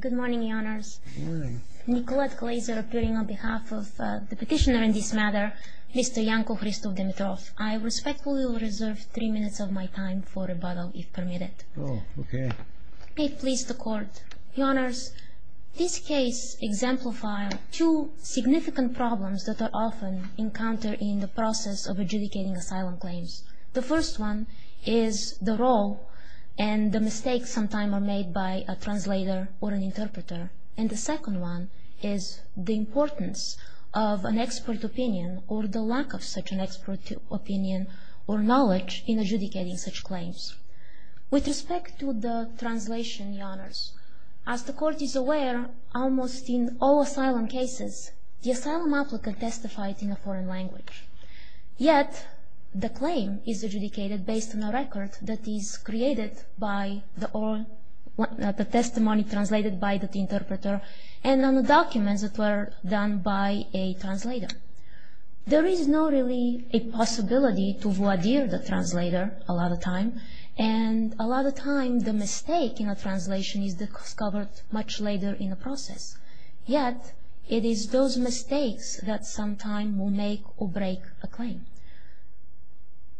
Good morning, Your Honors. Nicolette Glazer appearing on behalf of the petitioner in this matter, Mr. Janko Hristov Dimitrov. I respectfully will reserve three minutes of my time for rebuttal, if permitted. Oh, okay. May it please the Court. Your Honors, this case exemplifies two significant problems that are often encountered in the process of adjudicating asylum claims. The first one is the role and the mistakes sometimes made by a translator or an interpreter. And the second one is the importance of an expert opinion or the lack of such an expert opinion or knowledge in adjudicating such claims. With respect to the translation, Your Honors, as the Court is aware, almost in all asylum cases, the asylum applicant testified in a foreign language. Yet, the claim is adjudicated based on a record that is created by the testimony translated by the interpreter and on the documents that were done by a translator. There is not really a possibility to voir dire the translator a lot of time. And a lot of time, the mistake in a translation is discovered much later in the process. Yet, it is those mistakes that sometime will make or break a claim.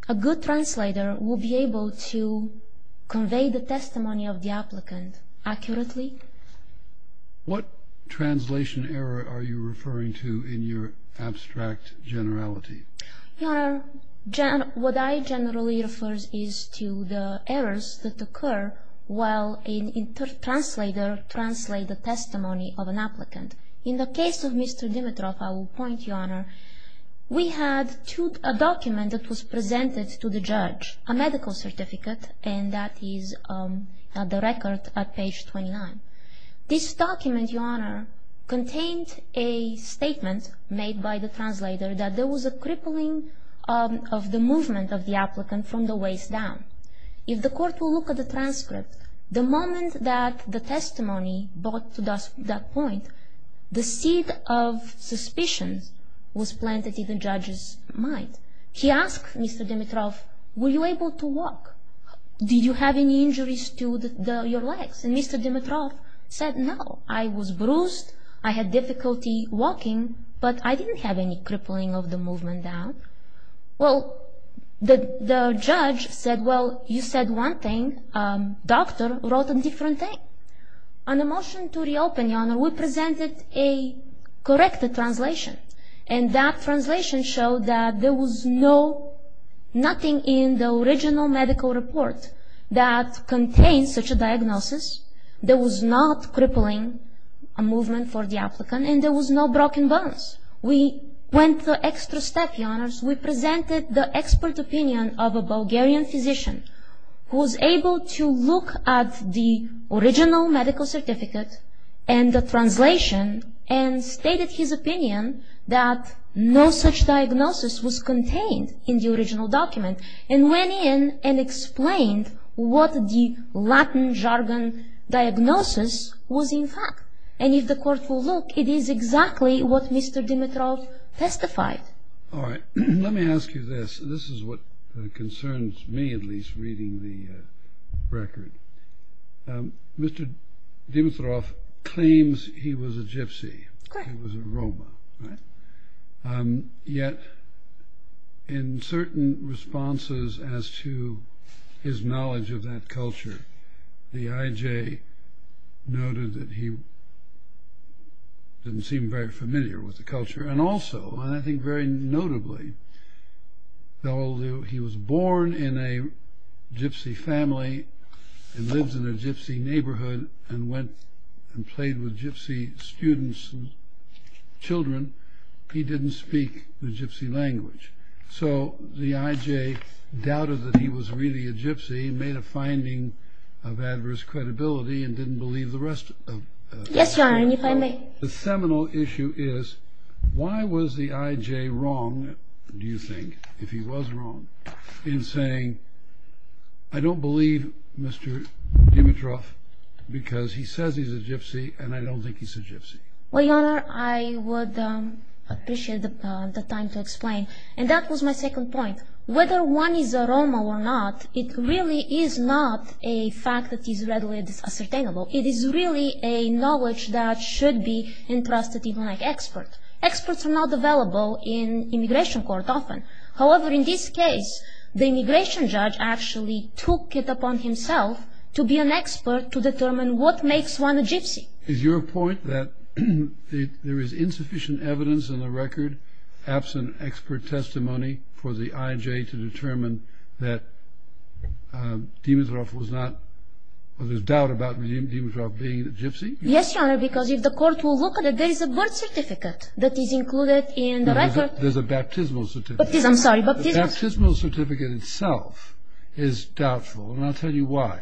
A good translator will be able to convey the testimony of the applicant accurately. What translation error are you referring to in your abstract generality? Your Honor, what I generally refer is to the errors that occur while a translator translates the testimony of an applicant. In the case of Mr. Dimitrov, I will point, Your Honor, we had a document that was presented to the judge, a medical certificate, and that is the record at page 29. This document, Your Honor, contained a statement made by the translator that there was a crippling of the movement of the applicant from the waist down. If the court will look at the transcript, the moment that the testimony brought to that point, the seed of suspicion was planted in the judge's mind. He asked Mr. Dimitrov, were you able to walk? Did you have any injuries to your legs? And Mr. Dimitrov said, no, I was bruised. I had difficulty walking, but I didn't have any crippling of the movement down. Well, the judge said, well, you said one thing. Doctor wrote a different thing. On the motion to reopen, Your Honor, we presented a corrected translation. And that translation showed that there was no, nothing in the original medical report that contains such a diagnosis. There was not crippling a movement for the applicant, and there was no broken bones. We went the extra step, Your Honors. We presented the expert opinion of a Bulgarian physician who was able to look at the original medical certificate and the translation and stated his opinion that no such diagnosis was contained in the original document and went in and explained what the Latin jargon diagnosis was in fact. And if the court will look, it is exactly what Mr. Dimitrov testified. All right. Let me ask you this. This is what concerns me, at least reading the record. Mr. Dimitrov claims he was a gypsy. He was a Roma. Yet in certain responses as to his knowledge of that culture, the IJ noted that he didn't seem very familiar with the culture. And also, and I think very notably, though he was born in a gypsy family and lives in a gypsy neighborhood and went and played with gypsy students and children, he didn't speak the gypsy language. So the IJ doubted that he was really a gypsy and made a finding of adverse credibility and didn't believe the rest. Yes, Your Honor, and if I may. The seminal issue is, why was the IJ wrong, do you think, if he was wrong, in saying, I don't believe Mr. Dimitrov because he says he's a gypsy and I don't think he's a gypsy? Well, Your Honor, I would appreciate the time to explain. And that was my second point. Whether one is a Roma or not, it really is not a fact that is readily ascertainable. It is really a knowledge that should be entrusted to an expert. Experts are not available in immigration court often. However, in this case, the immigration judge actually took it upon himself to be an expert to determine what makes one a gypsy. Is your point that there is insufficient evidence in the record, absent expert testimony for the IJ to determine that Dimitrov was not, or there's doubt about Dimitrov being a gypsy? Yes, Your Honor, because if the court will look at it, there is a birth certificate that is included in the record. There's a baptismal certificate. I'm sorry, baptismal certificate. The baptismal certificate itself is doubtful, and I'll tell you why.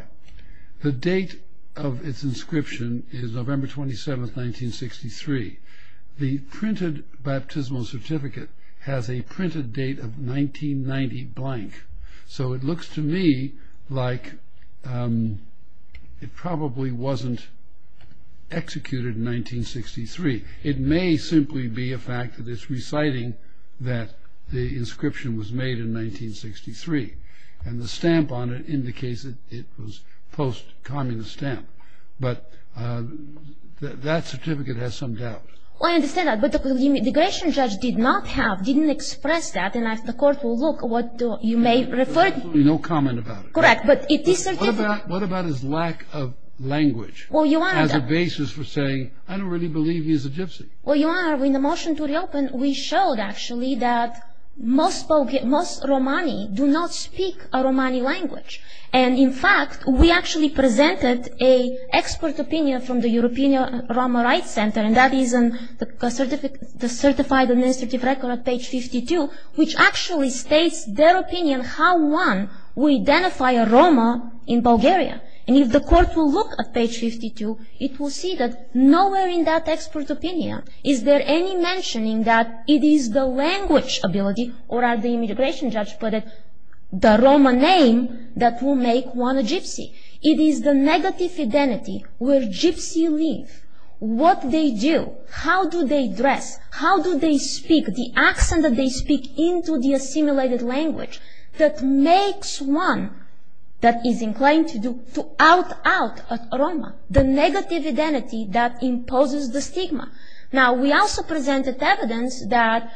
The date of its inscription is November 27, 1963. The printed baptismal certificate has a printed date of 1990 blank. So it looks to me like it probably wasn't executed in 1963. It may simply be a fact that it's reciting that the inscription was made in 1963. And the stamp on it indicates that it was post-communist stamp. But that certificate has some doubt. I understand that, but the immigration judge did not have, didn't express that, and the court will look at what you may refer to. There's absolutely no comment about it. Correct, but it is certifiable. What about his lack of language as a basis for saying, I don't really believe he's a gypsy? Well, Your Honor, in the motion to reopen, we showed, actually, that most Romani do not speak a Romani language. And, in fact, we actually presented an expert opinion from the European Roma Rights Center, and that is the certified administrative record on page 52, which actually states their opinion how one would identify a Roma in Bulgaria. And if the court will look at page 52, it will see that nowhere in that expert opinion is there any mentioning that it is the language ability, or as the immigration judge put it, the Roma name that will make one a gypsy. It is the negative identity where gypsy live, what they do, how do they dress, how do they speak, the accent that they speak into the assimilated language that makes one that is inclined to out-out a Roma, the negative identity that imposes the stigma. Now, we also presented evidence that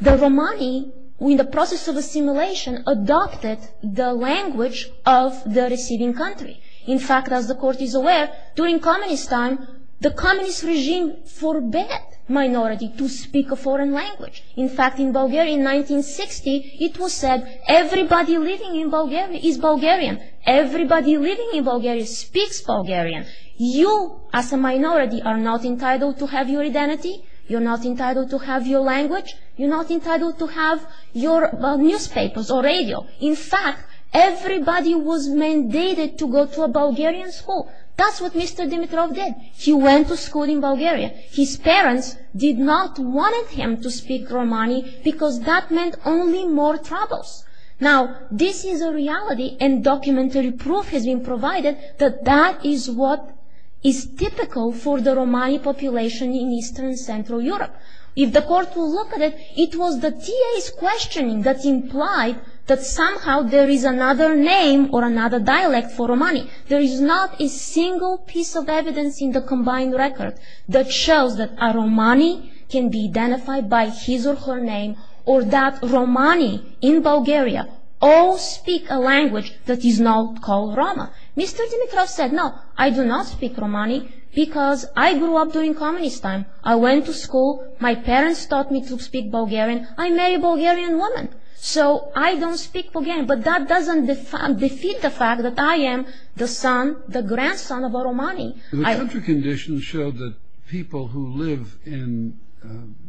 the Romani, in the process of assimilation, adopted the language of the receiving country. In fact, as the court is aware, during communist time, the communist regime forbade minority to speak a foreign language. In fact, in Bulgaria, in 1960, it was said, everybody living in Bulgaria is Bulgarian. Everybody living in Bulgaria speaks Bulgarian. You, as a minority, are not entitled to have your identity, you're not entitled to have your language, you're not entitled to have your newspapers or radio. In fact, everybody was mandated to go to a Bulgarian school. That's what Mr. Dimitrov did. He went to school in Bulgaria. His parents did not want him to speak Romani because that meant only more troubles. Now, this is a reality and documentary proof has been provided that that is what is typical for the Romani population in Eastern and Central Europe. If the court will look at it, it was the TA's questioning that implied that somehow there is another name or another dialect for Romani. There is not a single piece of evidence in the combined record that shows that a Romani can be identified by his or her name or that Romani in Bulgaria all speak a language that is not called Roma. Mr. Dimitrov said, no, I do not speak Romani because I grew up during communist time. I went to school, my parents taught me to speak Bulgarian, I'm a Bulgarian woman, so I don't speak Bulgarian. But that doesn't defeat the fact that I am the son, the grandson of a Romani. The country conditions show that people who live in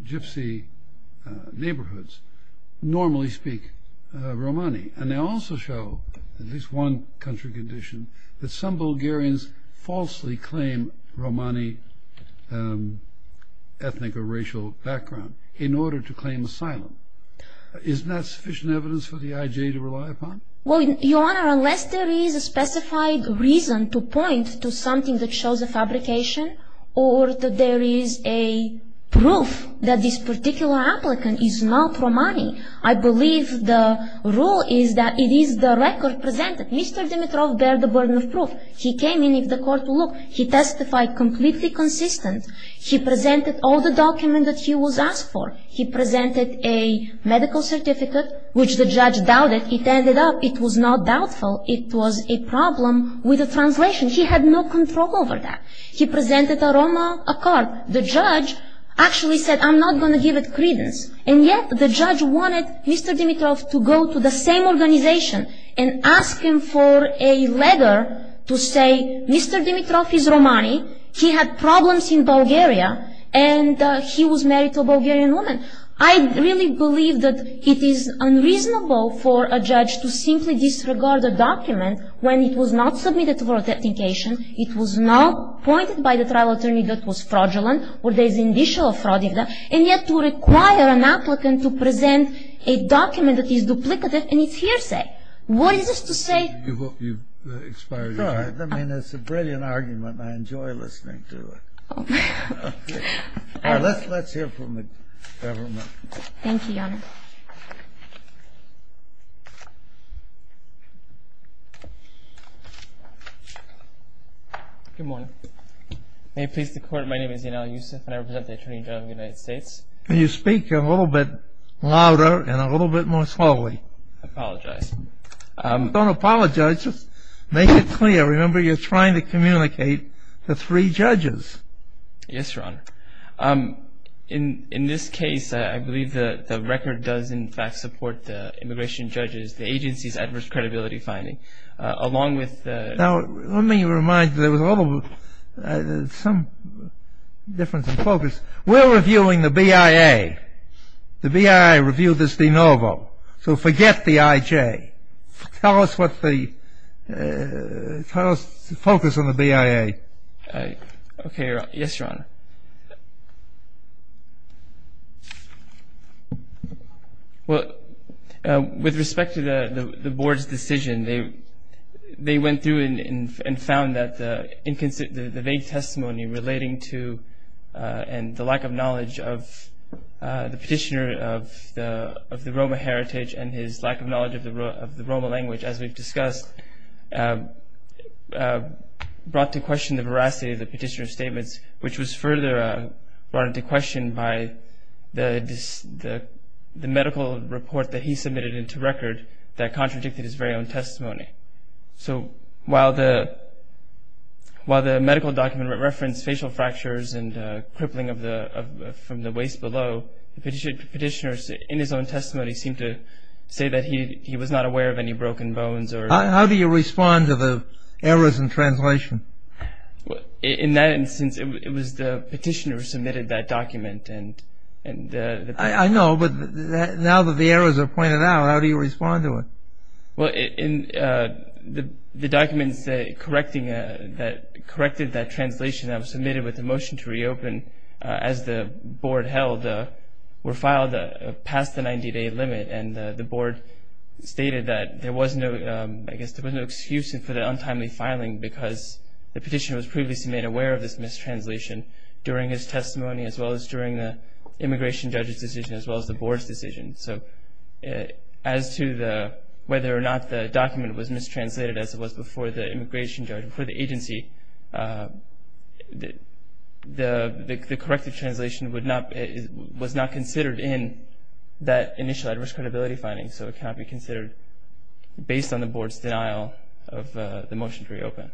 gypsy neighborhoods normally speak Romani and they also show, at least one country condition, that some Bulgarians falsely claim Romani ethnic or racial background in order to claim asylum. Isn't that sufficient evidence for the IJ to rely upon? Well, Your Honor, unless there is a specified reason to point to something that shows a fabrication or that there is a proof that this particular applicant is not Romani, I believe the rule is that it is the record presented. Mr. Dimitrov bared the burden of proof. He came in, if the court would look, he testified completely consistent. He presented all the documents that he was asked for. He presented a medical certificate, which the judge doubted. It ended up, it was not doubtful, it was a problem with the translation. He had no control over that. He presented a Roma card. The judge actually said, I'm not going to give it credence. And yet the judge wanted Mr. Dimitrov to go to the same organization and ask him for a letter to say, Mr. Dimitrov is Romani, he had problems in Bulgaria, and he was married to a Bulgarian woman. I really believe that it is unreasonable for a judge to simply disregard a document when it was not submitted for authentication, it was not pointed by the trial attorney that was fraudulent or there is indicial of fraud in that, and yet to require an applicant to present a document that is duplicative and it's hearsay. What is this to say? You've expired your time. I mean, it's a brilliant argument and I enjoy listening to it. All right, let's hear from the government. Thank you, Your Honor. Good morning. May it please the Court, my name is Yanel Yusuf and I represent the Attorney General of the United States. Can you speak a little bit louder and a little bit more slowly? I apologize. Don't apologize, just make it clear. Remember, you're trying to communicate to three judges. Yes, Your Honor. In this case, I believe the record does in fact support the immigration judges, the agency's adverse credibility finding, along with the... Now, let me remind you, there was some difference in focus. We're reviewing the BIA. The BIA reviewed this de novo, so forget the IJ. Tell us focus on the BIA. Okay, Your Honor. Yes, Your Honor. Well, with respect to the Board's decision, they went through and found that the vague testimony relating to and the lack of knowledge of the petitioner of the Roma heritage and his lack of knowledge of the Roma language, as we've discussed, brought to question the veracity of the petitioner's statements, which was further brought into question by the medical report that he submitted into record that contradicted his very own testimony. Okay. So while the medical document referenced facial fractures and crippling from the waist below, the petitioner in his own testimony seemed to say that he was not aware of any broken bones or... How do you respond to the errors in translation? In that instance, it was the petitioner who submitted that document and... I know, but now that the errors are pointed out, how do you respond to it? Well, the documents that corrected that translation that was submitted with the motion to reopen, as the Board held, were filed past the 90-day limit, and the Board stated that there was no excuse for the untimely filing because the petitioner was previously made aware of this mistranslation during his testimony as well as during the immigration judge's decision as well as the Board's decision. So as to whether or not the document was mistranslated as it was before the immigration judge, before the agency, the corrective translation was not considered in that initial adverse credibility finding, so it cannot be considered based on the Board's denial of the motion to reopen.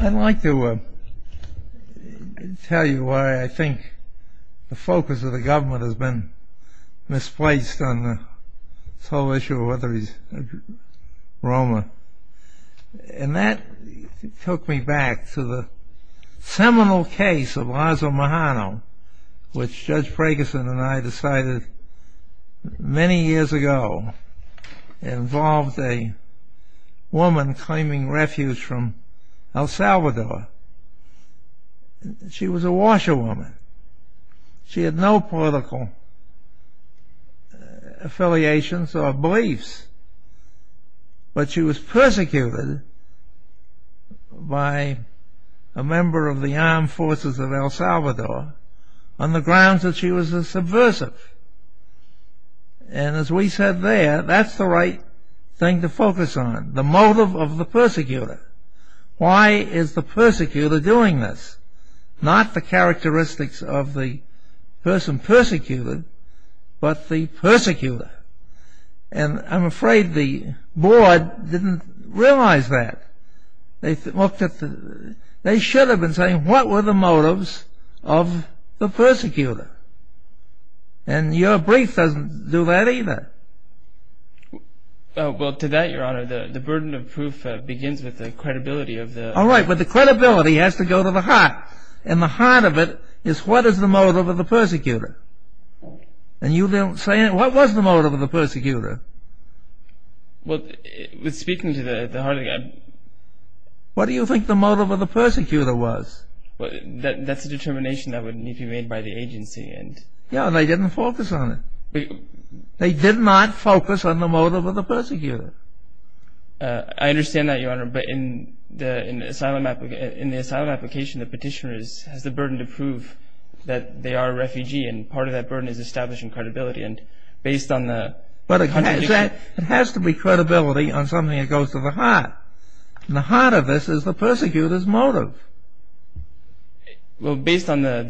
I'd like to tell you why I think the focus of the government has been misplaced on this whole issue of whether he's Roma. And that took me back to the seminal case of Lazo Mahano, which Judge Preggison and I decided many years ago involved a woman claiming refuge from El Salvador. She was a washerwoman. She had no political affiliations or beliefs, but she was persecuted by a member of the armed forces of El Salvador on the grounds that she was a subversive. And as we said there, that's the right thing to focus on, the motive of the persecutor. Why is the persecutor doing this? Not the characteristics of the person persecuted, but the persecutor. And I'm afraid the Board didn't realize that. They should have been saying, what were the motives of the persecutor? And your brief doesn't do that either. Well, to that, Your Honor, the burden of proof begins with the credibility of the... All right, but the credibility has to go to the heart. And the heart of it is what is the motive of the persecutor? And you don't say, what was the motive of the persecutor? Well, speaking to the heart of it... What do you think the motive of the persecutor was? That's a determination that would need to be made by the agency. No, they didn't focus on it. They did not focus on the motive of the persecutor. I understand that, Your Honor, but in the asylum application, the petitioner has the burden to prove that they are a refugee, and part of that burden is establishing credibility. And based on the contradiction... But it has to be credibility on something that goes to the heart. And the heart of this is the persecutor's motive. Well, based on the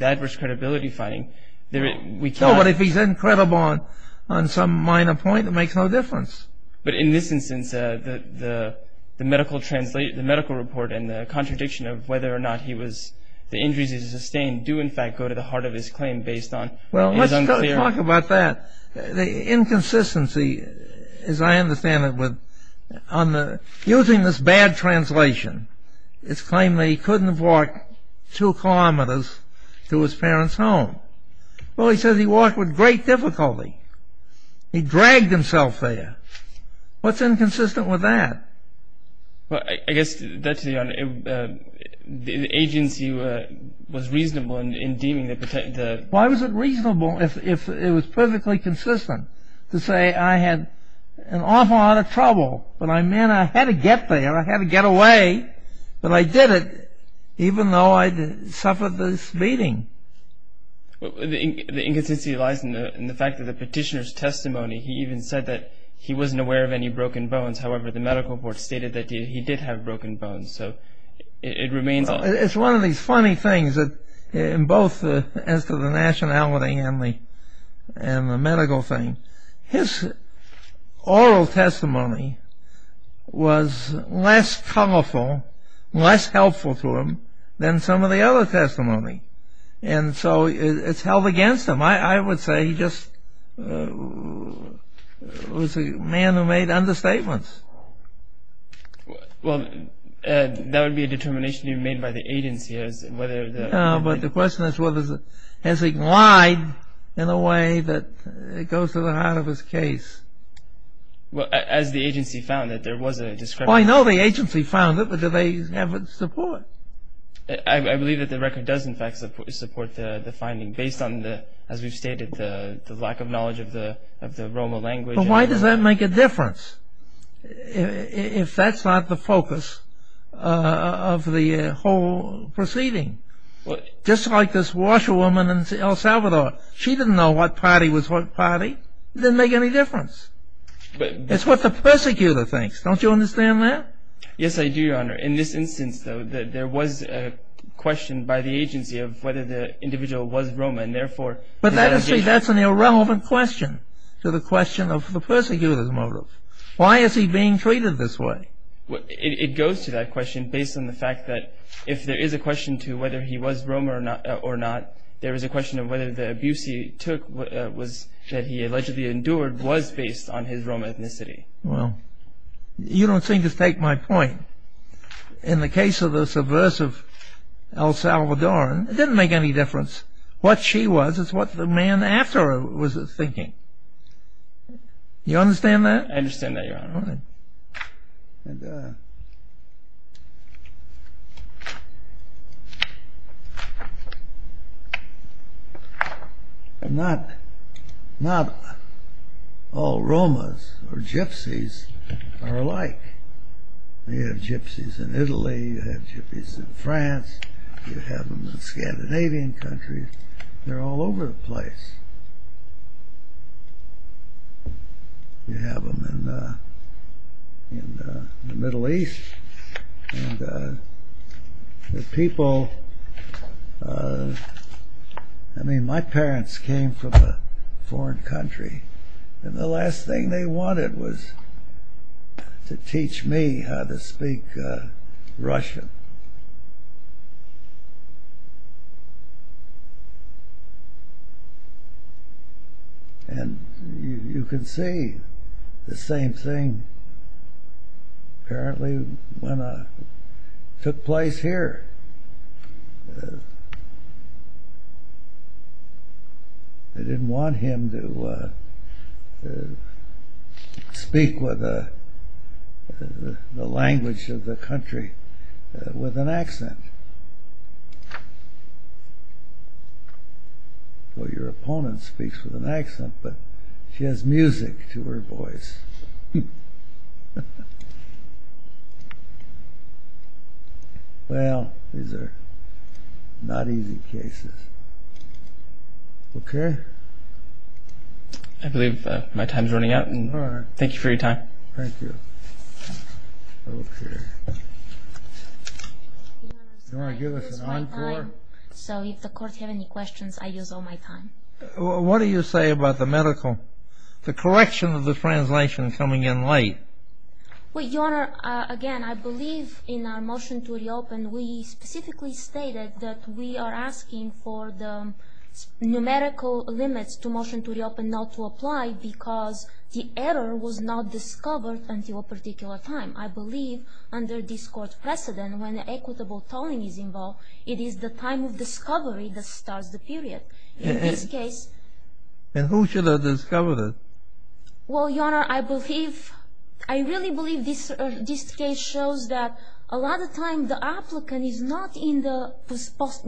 adverse credibility finding, we can't... No, but if he's incredible on some minor point, it makes no difference. But in this instance, the medical report and the contradiction of whether or not he was... The injuries he sustained do, in fact, go to the heart of his claim based on his unclear... Well, let's talk about that. The inconsistency, as I understand it, with... Using this bad translation, it's claimed that he couldn't have walked 2 kilometers to his parents' home. Well, he says he walked with great difficulty. He dragged himself there. What's inconsistent with that? Well, I guess that, Your Honor, the agency was reasonable in deeming that... Why was it reasonable if it was perfectly consistent to say, I had an awful lot of trouble, but I meant I had to get there, I had to get away, but I did it even though I'd suffered this beating. The inconsistency lies in the fact that the petitioner's testimony, he even said that he wasn't aware of any broken bones. However, the medical report stated that he did have broken bones, so it remains... It's one of these funny things, in both as to the nationality and the medical thing. His oral testimony was less colorful, less helpful to him than some of the other testimony. And so it's held against him. I would say he just was a man who made understatements. Well, that would be a determination made by the agency as to whether... No, but the question is whether... Has he lied in a way that goes to the heart of his case? As the agency found it, there was a discrepancy... I know the agency found it, but do they have its support? I believe that the record does, in fact, support the finding, based on, as we've stated, the lack of knowledge of the Roma language. But why does that make a difference, if that's not the focus of the whole proceeding? Just like this washerwoman in El Salvador. She didn't know what party was what party. It didn't make any difference. It's what the persecutor thinks. Don't you understand that? Yes, I do, Your Honor. In this instance, though, there was a question by the agency of whether the individual was Roma, and therefore... But that's an irrelevant question to the question of the persecutor's motive. Why is he being treated this way? It goes to that question based on the fact that, if there is a question to whether he was Roma or not, there is a question of whether the abuse he took, that he allegedly endured, was based on his Roma ethnicity. Well, you don't seem to take my point. In the case of the subversive El Salvadoran, it didn't make any difference what she was. This is what the man after her was thinking. Do you understand that? I understand that, Your Honor. All right. Not all Romas or gypsies are alike. You have gypsies in Italy, you have gypsies in France, you have them in Scandinavian countries. They're all over the place. You have them in the Middle East. And the people... I mean, my parents came from a foreign country, and the last thing they wanted was to teach me how to speak Russian. And you can see the same thing apparently took place here. They didn't want him to speak with the language of the country with an accent. Well, your opponent speaks with an accent, but she has music to her voice. Well, these are not easy cases. Okay? I believe my time is running out. All right. Thank you for your time. Thank you. Okay. Your Honor, I'm sorry. Do you want to give us an encore? So if the court has any questions, I use all my time. What do you say about the medical... the correction of the translation coming in late? Well, Your Honor, again, I believe in our motion to reopen, we specifically stated that we are asking for the numerical limits to motion to reopen not to apply because the error was not discovered until a particular time. I believe under this court's precedent, when equitable tolling is involved, it is the time of discovery that starts the period. In this case... And who should have discovered it? Well, Your Honor, I believe... I really believe this case shows that a lot of times the applicant is not in the...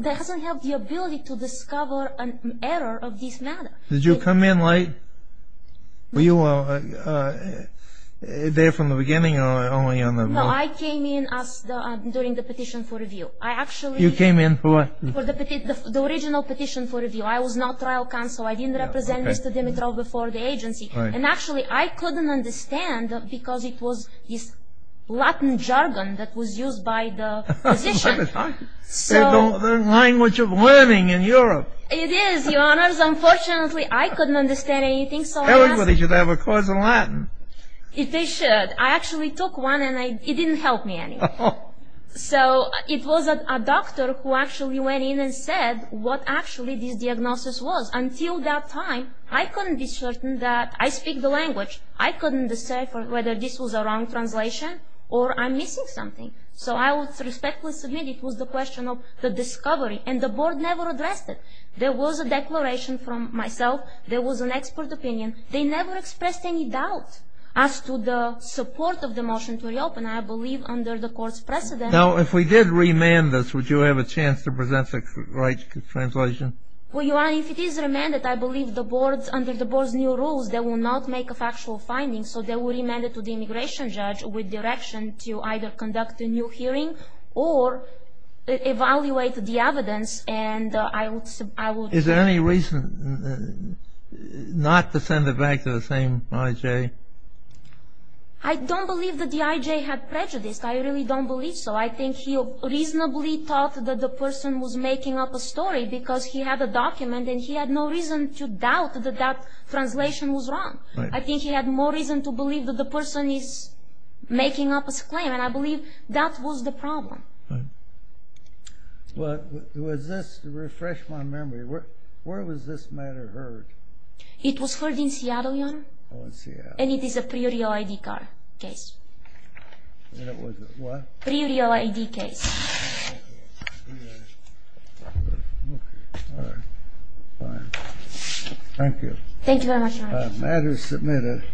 doesn't have the ability to discover an error of this matter. Did you come in late? Were you there from the beginning or only on the... No, I came in during the petition for review. I actually... You came in for what? For the original petition for review. I was not trial counsel. I didn't represent Mr. Dimitrov before the agency. And actually, I couldn't understand because it was this Latin jargon that was used by the physician. Language of learning in Europe. It is, Your Honor. Unfortunately, I couldn't understand anything, so I asked... Everybody should have a course in Latin. They should. I actually took one and it didn't help me anymore. So, it was a doctor who actually went in and said what actually this diagnosis was. Until that time, I couldn't be certain that... I speak the language. I couldn't say whether this was a wrong translation or I'm missing something. So, I would respectfully submit it was the question of the discovery. And the board never addressed it. There was a declaration from myself. There was an expert opinion. They never expressed any doubt as to the support of the motion to reopen. And I believe under the court's precedent... Now, if we did remand this, would you have a chance to present the right translation? Well, Your Honor, if it is remanded, I believe under the board's new rules, they will not make a factual finding. So, they will remand it to the immigration judge with direction to either conduct a new hearing or evaluate the evidence. And I would... Is there any reason not to send it back to the same IJ? I don't believe that the IJ had prejudice. I really don't believe so. I think he reasonably thought that the person was making up a story because he had a document and he had no reason to doubt that that translation was wrong. I think he had more reason to believe that the person is making up a claim. And I believe that was the problem. Well, to refresh my memory, where was this matter heard? It was heard in Seattle, Your Honor. Oh, in Seattle. And it is a pre-real ID case. And it was a what? Pre-real ID case. Okay. All right. Fine. Thank you. Thank you very much, Your Honor. The matter is submitted.